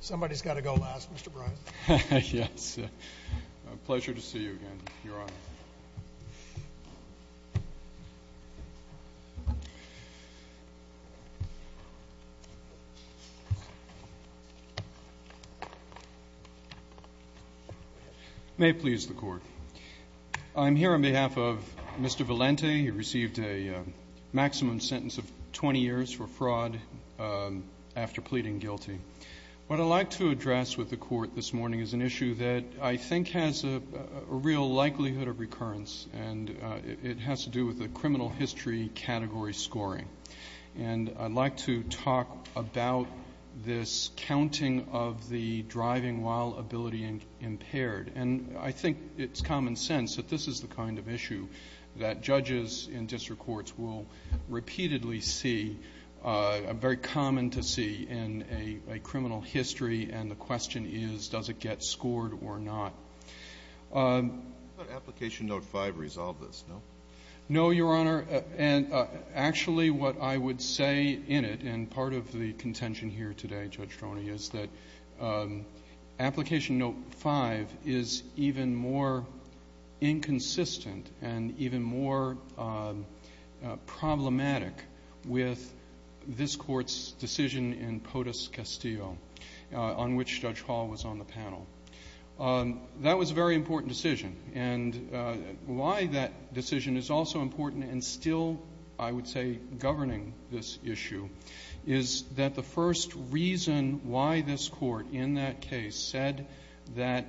Somebody's got to go last, Mr. Bryant. Yes. A pleasure to see you again, Your Honor. May it please the Court, I'm here on behalf of Mr. Valente. He received a maximum sentence of 20 years for fraud after pleading guilty. What I'd like to address with the Court this morning is an issue that I think has a real likelihood of recurrence, and it has to do with the criminal history category scoring. And I'd like to talk about this counting of the driving while ability impaired. And I think it's common sense that this is the kind of issue that judges in district courts will repeatedly see, very common to see, in a criminal history. And the question is, does it get scored or not? Could Application Note V resolve this, no? No, Your Honor. And actually, what I would say in it, and part of the contention here today, Judge Hall's drive is even more inconsistent and even more problematic with this Court's decision in POTUS-Castillo, on which Judge Hall was on the panel. That was a very important decision. And why that decision is also important and still, I would say, governing this issue is that the first reason why this Court in that case said that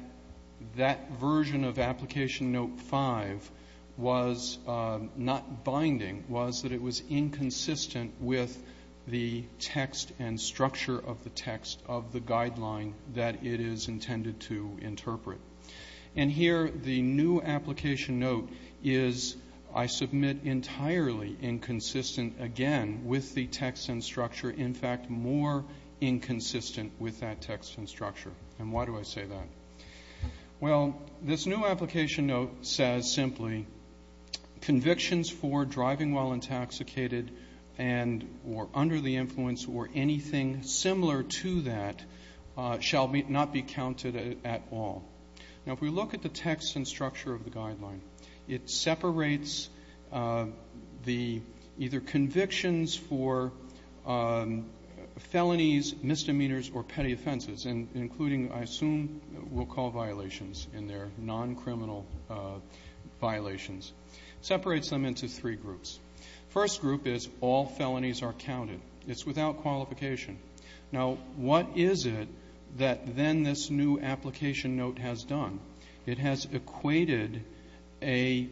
that version of Application Note V was not binding was that it was inconsistent with the text and structure of the text of the guideline that it is intended to interpret. And here, the new Application Note is, I submit, entirely inconsistent, again, with the text and structure, in fact, more inconsistent with that text and structure. And why do I say that? Well, this new Application Note says simply, convictions for driving while intoxicated and or under the influence or anything similar to that shall not be counted at all. Now, if we look at the text and structure of the guideline, it separates the either or for felonies, misdemeanors, or petty offenses, including, I assume, we'll call violations in there, noncriminal violations, separates them into three groups. First group is all felonies are counted. It's without qualification. Now, what is it that then this new Application Note has done? It has equated a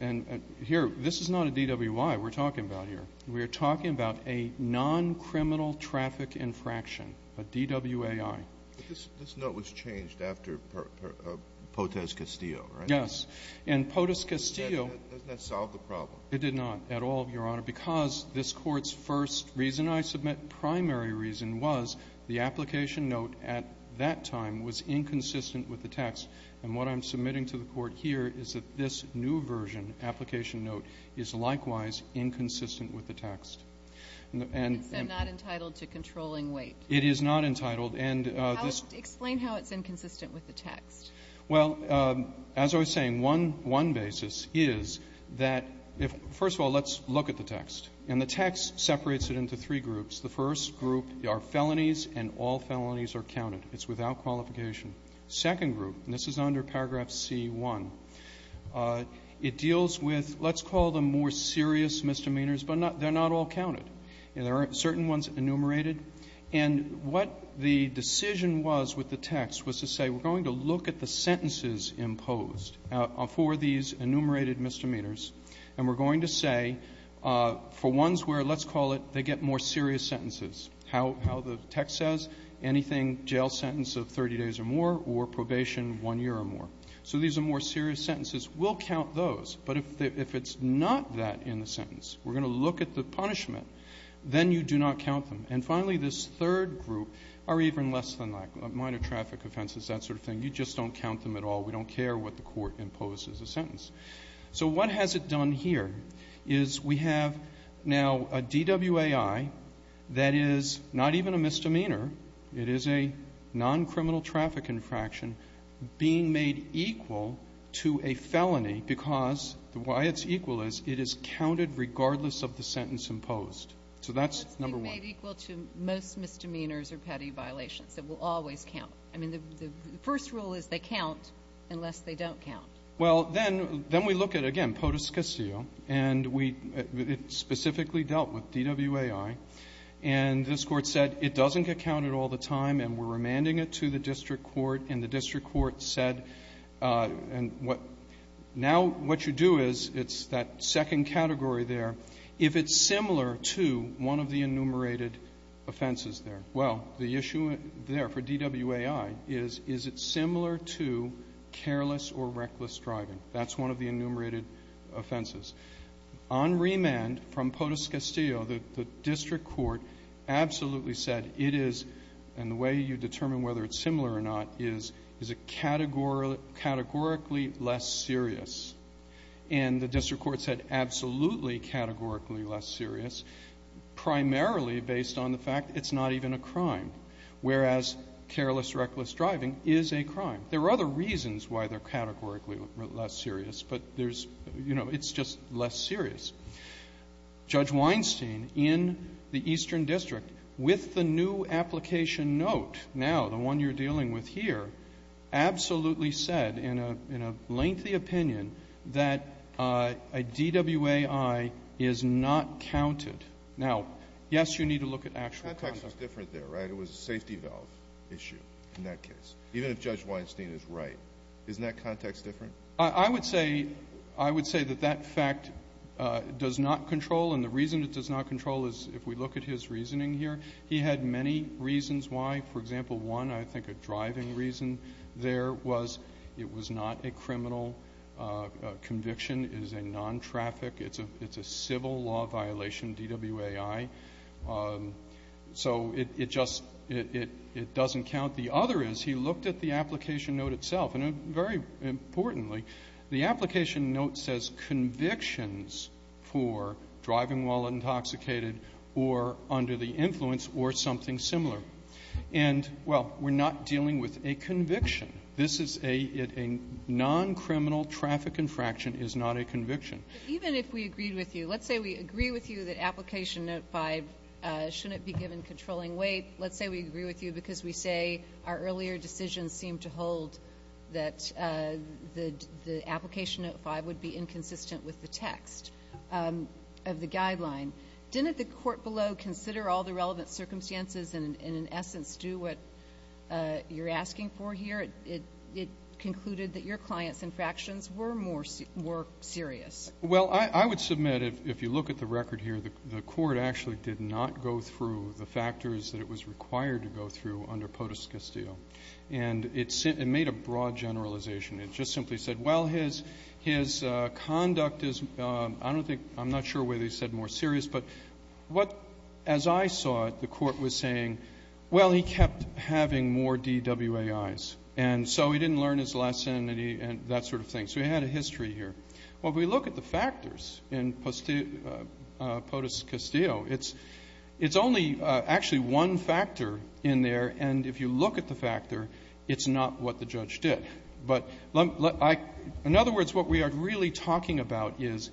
and here, this is not a DWI we're talking about here. We are talking about a noncriminal traffic infraction, a DWAI. But this note was changed after Potez-Castillo, right? Yes. And Potez-Castillo. Doesn't that solve the problem? It did not at all, Your Honor, because this Court's first reason I submit, primary reason, was the Application Note at that time was inconsistent with the text. And what I'm submitting to the Court here is that this new version, Application Note, is likewise inconsistent with the text. And the end. It's not entitled to controlling weight. It is not entitled. And this. Explain how it's inconsistent with the text. Well, as I was saying, one basis is that if, first of all, let's look at the text. And the text separates it into three groups. The first group are felonies, and all felonies are counted. It's without qualification. The second group, and this is under paragraph C-1, it deals with, let's call them more serious misdemeanors, but they're not all counted. There are certain ones enumerated. And what the decision was with the text was to say, we're going to look at the sentences imposed for these enumerated misdemeanors, and we're going to say, for ones where, let's call it, they get more serious sentences. How the text says, anything, jail sentence of 30 days or more, or probation one year or more. So these are more serious sentences. We'll count those. But if it's not that in the sentence, we're going to look at the punishment, then you do not count them. And finally, this third group are even less than that, minor traffic offenses, that sort of thing. You just don't count them at all. We don't care what the court imposes a sentence. So what has it done here is we have now a DWAI that is not even a misdemeanor. It is a noncriminal traffic infraction being made equal to a felony because why it's equal is it is counted regardless of the sentence imposed. So that's number one. It's being made equal to most misdemeanors or petty violations. It will always count. I mean, the first rule is they count unless they don't count. Well, then we look at, again, POTUS Castillo, and we specifically dealt with DWAI. And this Court said it doesn't get counted all the time, and we're remanding it to the district court, and the district court said, and now what you do is it's that second category there, if it's similar to one of the enumerated offenses there. Well, the issue there for DWAI is, is it similar to careless or reckless driving? That's one of the enumerated offenses. On remand from POTUS Castillo, the district court absolutely said it is, and the way you determine whether it's similar or not, is it categorically less serious. And the district court said absolutely categorically less serious, primarily based on the fact it's not even a crime, whereas careless or reckless driving is a crime. There are other reasons why they're categorically less serious, but there's, you know, it's just less serious. Judge Weinstein, in the Eastern District, with the new application note now, the one you're dealing with here, absolutely said, in a lengthy opinion, that a DWAI is not counted. Now, yes, you need to look at actual context. The context is different there, right? It was a safety valve issue in that case. Even if Judge Weinstein is right. Isn't that context different? I would say, I would say that that fact does not control, and the reason it does not control is, if we look at his reasoning here, he had many reasons why. For example, one, I think, a driving reason there was it was not a criminal conviction. It is a non-traffic, it's a civil law violation, DWAI. So it just, it doesn't count. The other is, he looked at the application note itself, and very importantly, the application note says convictions for driving while intoxicated or under the influence or something similar. And, well, we're not dealing with a conviction. This is a non-criminal traffic infraction is not a conviction. Even if we agreed with you, let's say we agree with you that application note five shouldn't be given controlling weight. Let's say we agree with you because we say our earlier decisions seem to hold that the application note five would be inconsistent with the text of the guideline. Didn't the court below consider all the relevant circumstances and, in essence, do what you're asking for here? It concluded that your clients' infractions were more serious. Well, I would submit, if you look at the record here, the court actually did not go through the factors that it was required to go through under POTUS Castile. And it made a broad generalization. It just simply said, well, his conduct is, I don't think, I'm not sure whether he said more serious, but what, as I saw it, the court was saying, well, he kept having more DWAIs. And so he didn't learn his lesson and that sort of thing. So he had a history here. Well, if we look at the factors in POTUS Castile, it's only actually one factor in there. And if you look at the factor, it's not what the judge did. But in other words, what we are really talking about is,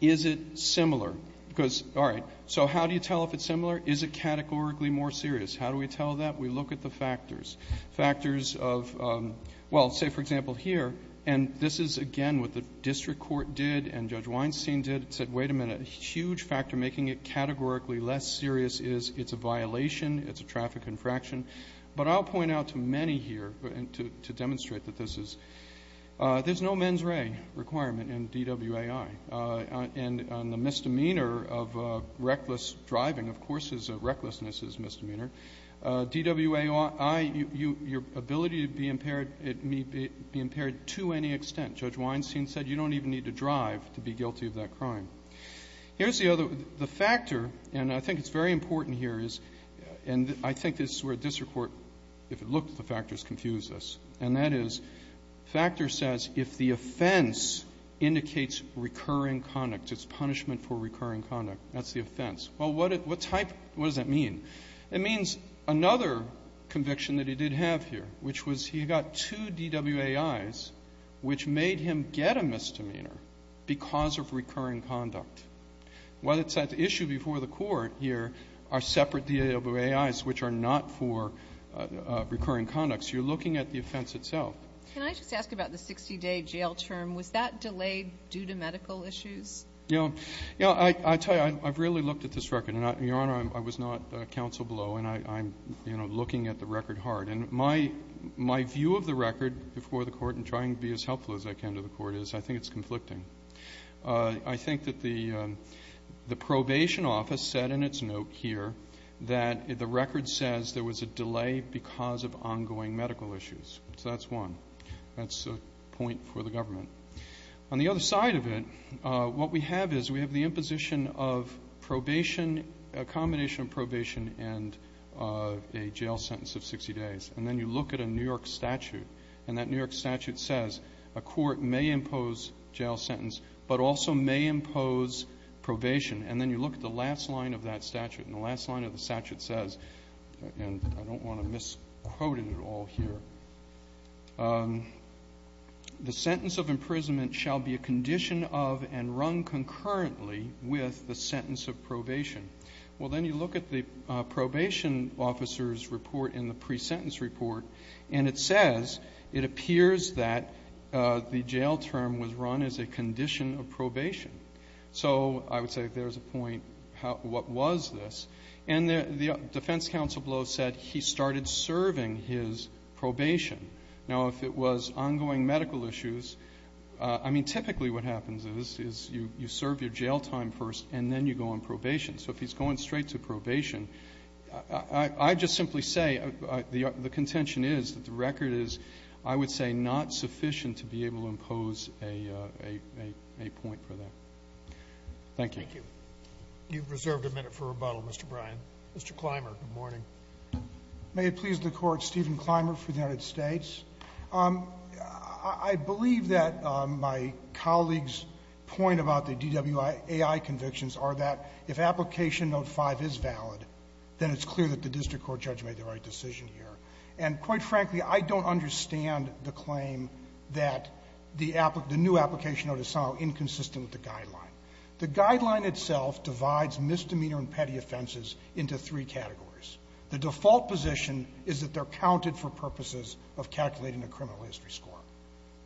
is it similar? Because, all right, so how do you tell if it's similar? Is it categorically more serious? How do we tell that? We look at the factors. Factors of, well, say, for example, here, and this is, again, what the district court did and Judge Weinstein did. It said, wait a minute, a huge factor making it categorically less serious is it's a violation, it's a traffic infraction. But I'll point out to many here, to demonstrate that this is, there's no mens rea requirement in DWAI. And the misdemeanor of reckless driving, of course, is a recklessness is misdemeanor. DWAI, your ability to be impaired, it may be impaired to any extent. Judge Weinstein said you don't even need to drive to be guilty of that crime. Here's the other, the factor, and I think it's very important here, is, and I think this is where district court, if it looked at the factors, confused us. And that is, factor says if the offense indicates recurring conduct, it's punishment for recurring conduct, that's the offense. Well, what type, what does that mean? It means another conviction that he did have here, which was he got two DWAI's, which made him get a misdemeanor because of recurring conduct. What it said, the issue before the court here are separate DWAI's, which are not for recurring conduct. So you're looking at the offense itself. Can I just ask about the 60-day jail term? Was that delayed due to medical issues? Yeah. I tell you, I've really looked at this record. And, Your Honor, I was not counsel below, and I'm, you know, looking at the record hard. And my view of the record before the court, and trying to be as helpful as I can to the court, is I think it's conflicting. I think that the probation office said in its note here that the record says there was a delay because of ongoing medical issues. So that's one. That's a point for the government. On the other side of it, what we have is we have the imposition of probation, a combination of probation and a jail sentence of 60 days. And then you look at a New York statute, and that New York statute says a court may impose jail sentence, but also may impose probation. And then you look at the last line of that statute, and the last line of the statute, I don't want to misquote it all here, the sentence of imprisonment shall be a condition of and run concurrently with the sentence of probation. Well, then you look at the probation officer's report in the pre-sentence report, and it says it appears that the jail term was run as a condition of probation. So I would say there's a point, what was this? And the defense counsel below said he started serving his probation. Now, if it was ongoing medical issues, I mean, typically what happens is you serve your jail time first and then you go on probation. So if he's going straight to probation, I'd just simply say the contention is that the record is, I would say, not sufficient to be able to impose a point for that. Thank you. Thank you. You've reserved a minute for rebuttal, Mr. Bryan. Mr. Clymer, good morning. May it please the Court, Stephen Clymer for the United States. I believe that my colleague's point about the DWI AI convictions are that if application note 5 is valid, then it's clear that the district court judge made the right decision here. And quite frankly, I don't understand the claim that the new application note is somehow inconsistent with the guideline. The guideline itself divides misdemeanor and petty offenses into three categories. The default position is that they're counted for purposes of calculating a criminal history score.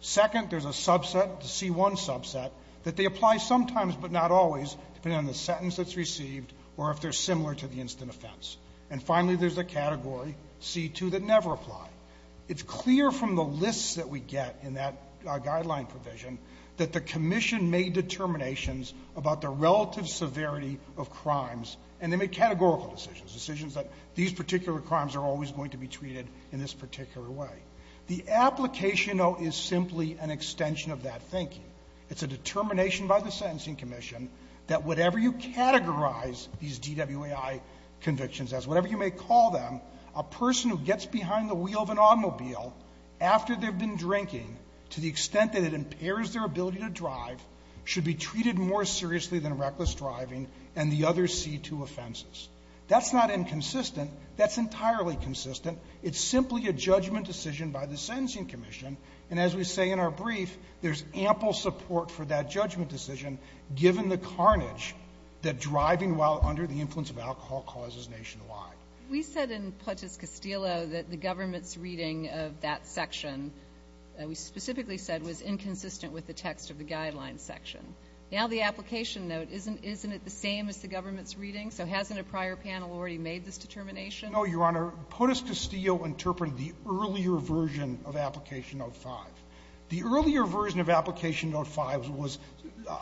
Second, there's a subset, the C1 subset, that they apply sometimes but not always, depending on the sentence that's received or if they're similar to the instant offense. And finally, there's the category, C2, that never apply. It's clear from the lists that we get in that guideline provision that the commission made determinations about the relative severity of crimes, and they made categorical decisions, decisions that these particular crimes are always going to be treated in this particular way. The application note is simply an extension of that thinking. It's a determination by the Sentencing Commission that whatever you categorize these DWAI convictions as, whatever you may call them, a person who gets behind the wheel of an automobile after they've been drinking to the extent that it impairs their ability to drive should be treated more seriously than reckless driving and the other C2 offenses. That's not inconsistent. That's entirely consistent. It's simply a judgment decision by the Sentencing Commission. And as we say in our brief, there's ample support for that judgment decision, given the carnage that driving while under the influence of alcohol causes nationwide. We said in POTUS-Castillo that the government's reading of that section, we specifically said, was inconsistent with the text of the Guidelines section. Now the application note, isn't it the same as the government's reading? So hasn't a prior panel already made this determination? No, Your Honor. POTUS-Castillo interpreted the earlier version of Application Note 5. The earlier version of Application Note 5 was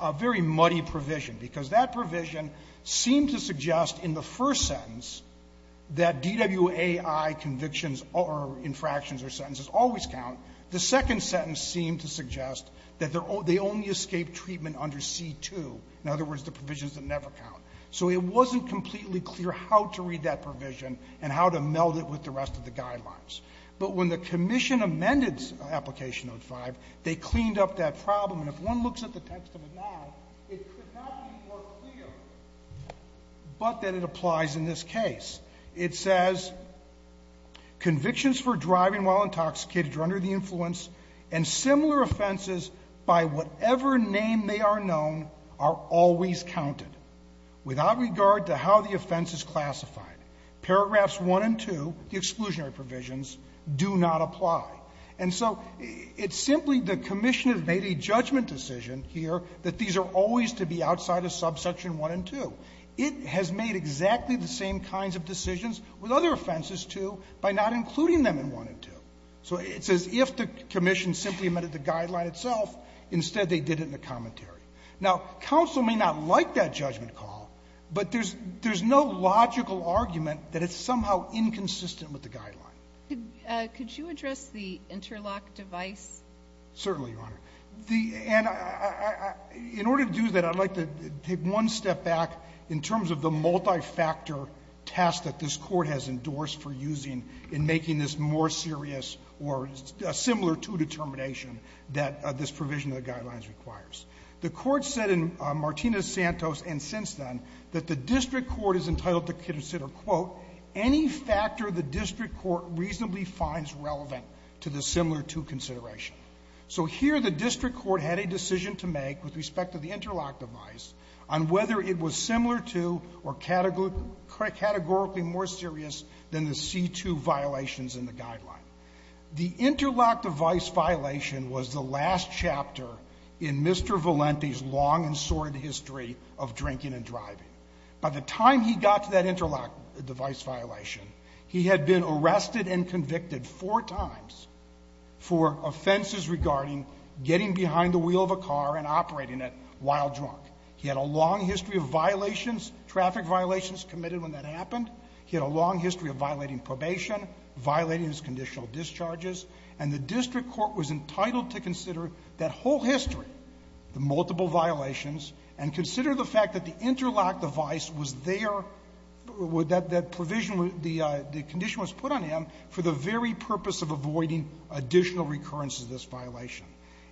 a very muddy provision, because that provision seemed to suggest in the first sentence that DWAI convictions or infractions or sentences always count. The second sentence seemed to suggest that they only escape treatment under C2, in other words, the provisions that never count. So it wasn't completely clear how to read that provision and how to meld it with the rest of the Guidelines. But when the Commission amended Application Note 5, they cleaned up that problem. And if one looks at the text of it now, it could not be more clear, but that it applies in this case. It says, "... convictions for driving while intoxicated or under the influence, and similar offenses by whatever name they are known, are always counted, without regard to how the offense is classified." And so it's simply the Commission has made a judgment decision here that these are always to be outside of subsection 1 and 2. It has made exactly the same kinds of decisions with other offenses, too, by not including them in 1 and 2. So it's as if the Commission simply amended the Guideline itself. Instead, they did it in a commentary. Now, counsel may not like that judgment call, but there's no logical argument that it's somehow inconsistent with the Guideline. Could you address the interlock device? Certainly, Your Honor. And in order to do that, I'd like to take one step back in terms of the multi-factor task that this Court has endorsed for using in making this more serious or similar to determination that this provision of the Guidelines requires. The Court said in Martinez-Santos and since then that the district court is entitled to consider, quote, any factor the district court reasonably finds relevant to the similar-to consideration. So here the district court had a decision to make with respect to the interlock device on whether it was similar to or categorically more serious than the C-2 violations in the Guideline. The interlock device violation was the last chapter in Mr. Valenti's long and sordid history of drinking and driving. By the time he got to that interlock device violation, he had been arrested and convicted four times for offenses regarding getting behind the wheel of a car and operating it while drunk. He had a long history of violations, traffic violations committed when that happened. He had a long history of violating probation, violating his conditional discharges. And the district court was entitled to consider that whole history, the multiple violations, and consider the fact that the interlock device was there, that that provision, the condition was put on him for the very purpose of avoiding additional recurrence of this violation.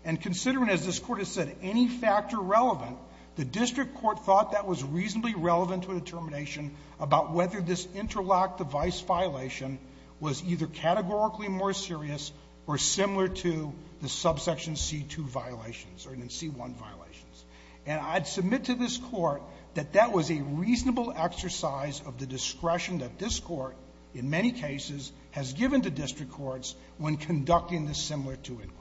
And considering, as this Court has said, any factor relevant, the district court thought that was reasonably relevant to a determination about whether this interlock device violation was either categorically more serious or similar to the subsection C-2 violations or even C-1 violations. And I'd submit to this Court that that was a reasonable exercise of the discretion that this Court, in many cases, has given to district courts when conducting this similar-to inquiry.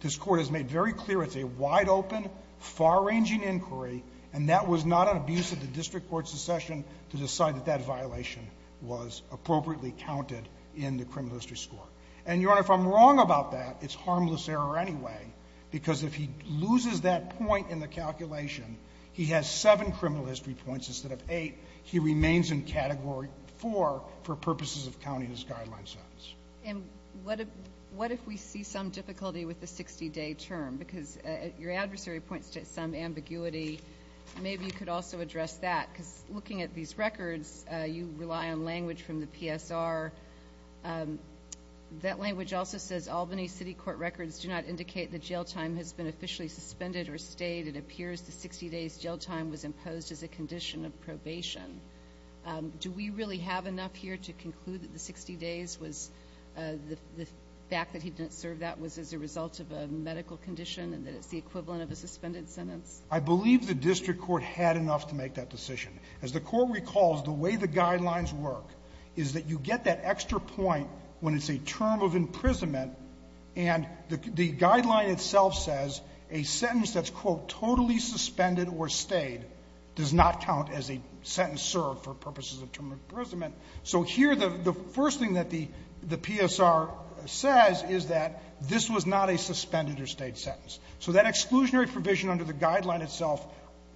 This Court has made very clear it's a wide-open, far-ranging inquiry, and that was not an abuse of the district court's succession to decide that that violation was appropriately counted in the criminal history score. And, Your Honor, if I'm wrong about that, it's harmless error anyway, because if he loses that point in the calculation, he has seven criminal history points instead of eight. He remains in Category 4 for purposes of counting his guideline sentence. And what if we see some difficulty with the 60-day term? Because your adversary points to some ambiguity. Maybe you could also address that, because looking at these records, you rely on language from the PSR. That language also says, Albany City District Court records do not indicate the jail time has been officially suspended or stayed. It appears the 60 days jail time was imposed as a condition of probation. Do we really have enough here to conclude that the 60 days was the fact that he didn't serve that was as a result of a medical condition and that it's the equivalent of a suspended sentence? I believe the district court had enough to make that decision. As the Court recalls, the way the guidelines work is that you get that extra point when it's a term of imprisonment, and the guideline itself says a sentence that's, quote, totally suspended or stayed does not count as a sentence served for purposes of term of imprisonment. So here the first thing that the PSR says is that this was not a suspended or stayed sentence. So that exclusionary provision under the guideline itself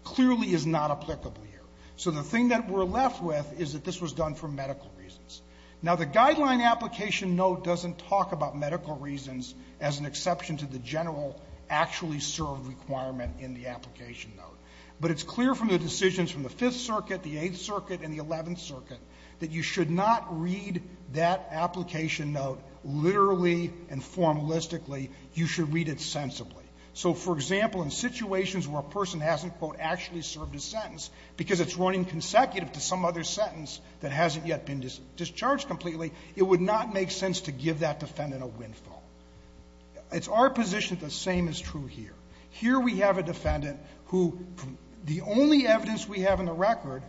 clearly is not applicable here. So the thing that we're left with is that this was done for medical reasons. Now, the guideline application note doesn't talk about medical reasons as an exception to the general actually served requirement in the application note. But it's clear from the decisions from the Fifth Circuit, the Eighth Circuit, and the Eleventh Circuit that you should not read that application note literally and formalistically. You should read it sensibly. So, for example, in situations where a person hasn't, quote, actually served a sentence because it's running consecutive to some other sentence that hasn't yet been discharged completely, it would not make sense to give that defendant a windfall. It's our position that the same is true here. Here we have a defendant who, from the only evidence we have in the record,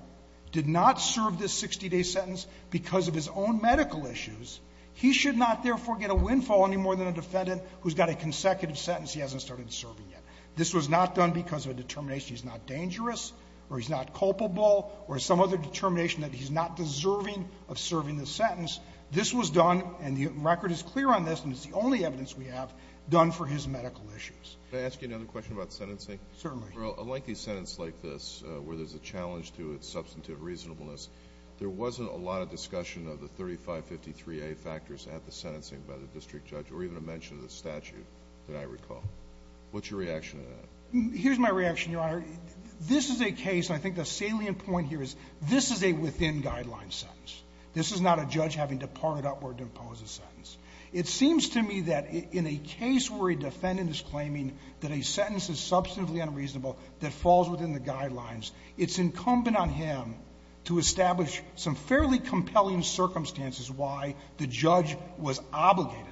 did not serve this 60-day sentence because of his own medical issues. He should not, therefore, get a windfall any more than a defendant who's got a consecutive sentence he hasn't started serving yet. This was not done because of a determination he's not going to serve, or he's not dangerous, or he's not culpable, or some other determination that he's not deserving of serving the sentence. This was done, and the record is clear on this, and it's the only evidence we have, done for his medical issues. Alitoso, can I ask you another question about sentencing? Certainly. Well, a lengthy sentence like this, where there's a challenge to its substantive reasonableness, there wasn't a lot of discussion of the 3553a factors at the sentencing by the district judge, or even a mention of the statute that I recall. What's your reaction to that? Here's my reaction, Your Honor. This is a case, and I think the salient point here is this is a within-guidelines sentence. This is not a judge having to part it upward to impose a sentence. It seems to me that in a case where a defendant is claiming that a sentence is substantively unreasonable that falls within the guidelines, it's incumbent on him to establish some fairly compelling circumstances why the judge was obligated,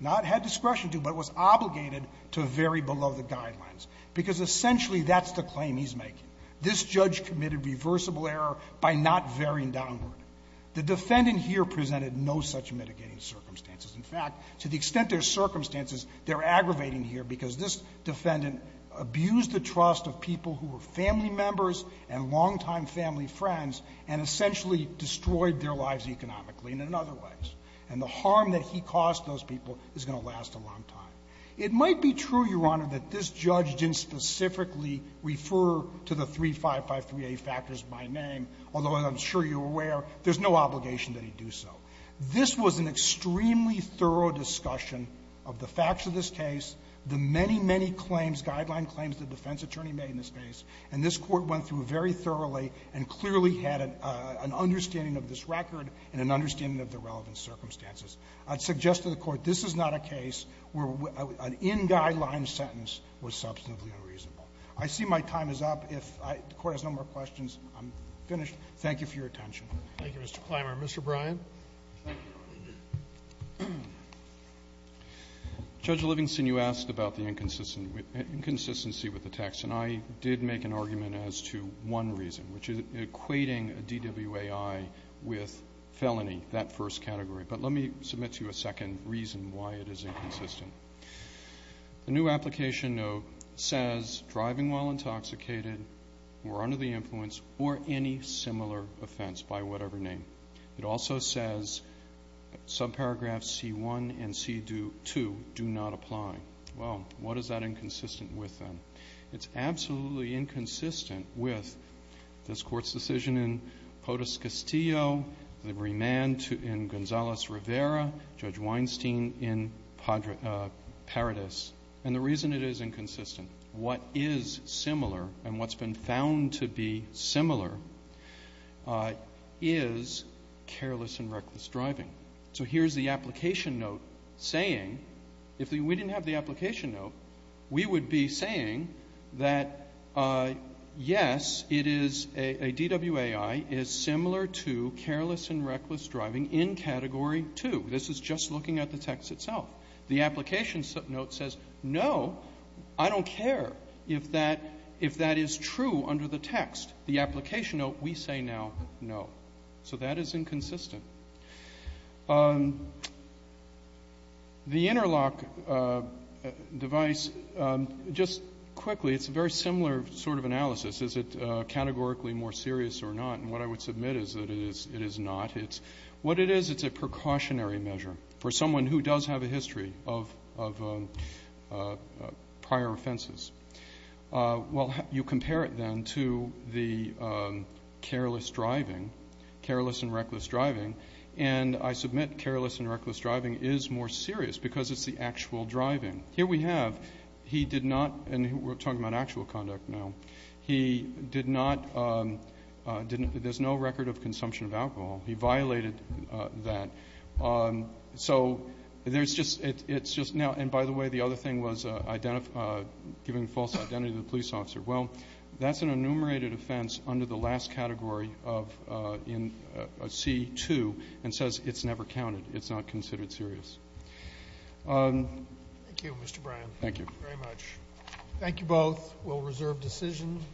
not had discretion to, but was obligated to vary below the guidelines, because essentially that's the claim he's making. This judge committed reversible error by not varying downward. The defendant here presented no such mitigating circumstances. In fact, to the extent there's circumstances, they're aggravating here because this defendant abused the trust of people who were family members and longtime family friends and essentially destroyed their lives economically and in other ways. And the harm that he caused those people is going to last a long time. It might be true, Your Honor, that this judge didn't specifically refer to the 3553A factors by name, although, as I'm sure you're aware, there's no obligation that he do so. This was an extremely thorough discussion of the facts of this case, the many, many claims, guideline claims the defense attorney made in this case, and this Court went through very thoroughly and clearly had an understanding of this record and an understanding of the circumstances. I'd suggest to the Court this is not a case where an in-guideline sentence was substantively unreasonable. I see my time is up. If the Court has no more questions, I'm finished. Thank you for your attention. Roberts. Thank you, Mr. Klimer. Mr. Bryan. Bryan. Judge Livingston, you asked about the inconsistency with the text, and I did make an argument as to one reason, which is equating a DWAI with felony, that first category But let me submit to you a second reason why it is inconsistent. The new application note says driving while intoxicated or under the influence or any similar offense by whatever name. It also says subparagraphs C-1 and C-2 do not apply. Well, what is that inconsistent with, then? It's absolutely inconsistent with this Court's findings in Ross Rivera, Judge Weinstein, in Paradis. And the reason it is inconsistent, what is similar, and what's been found to be similar, is careless and reckless driving. So here's the application note saying, if we didn't have the application note, we would be saying that, yes, it is, a DWAI is similar to careless and reckless driving in Category 2. This is just looking at the text itself. The application note says, no, I don't care if that is true under the text. The application note, we say now, no. So that is inconsistent. The interlock device, just quickly, it's a very similar sort of analysis. Is it categorically more serious or not? And what I would submit is that it is not. It's what it is, it's a precautionary measure for someone who does have a history of prior offenses. Well, you compare it, then, to the careless driving, careless and reckless driving, and I submit careless and reckless driving is more serious because it's the actual driving. Here we have, he did not, and we're talking about actual conduct now, he did not, didn't, there's no record of consumption of alcohol. He violated that. So there's just, it's just now, and by the way, the other thing was giving false identity to the police officer. Well, that's an enumerated offense under the last category of, in C2, and says it's never counted, it's not considered serious. Thank you, Mr. Bryan. Thank you. Thank you very much. Thank you both. We'll reserve decision.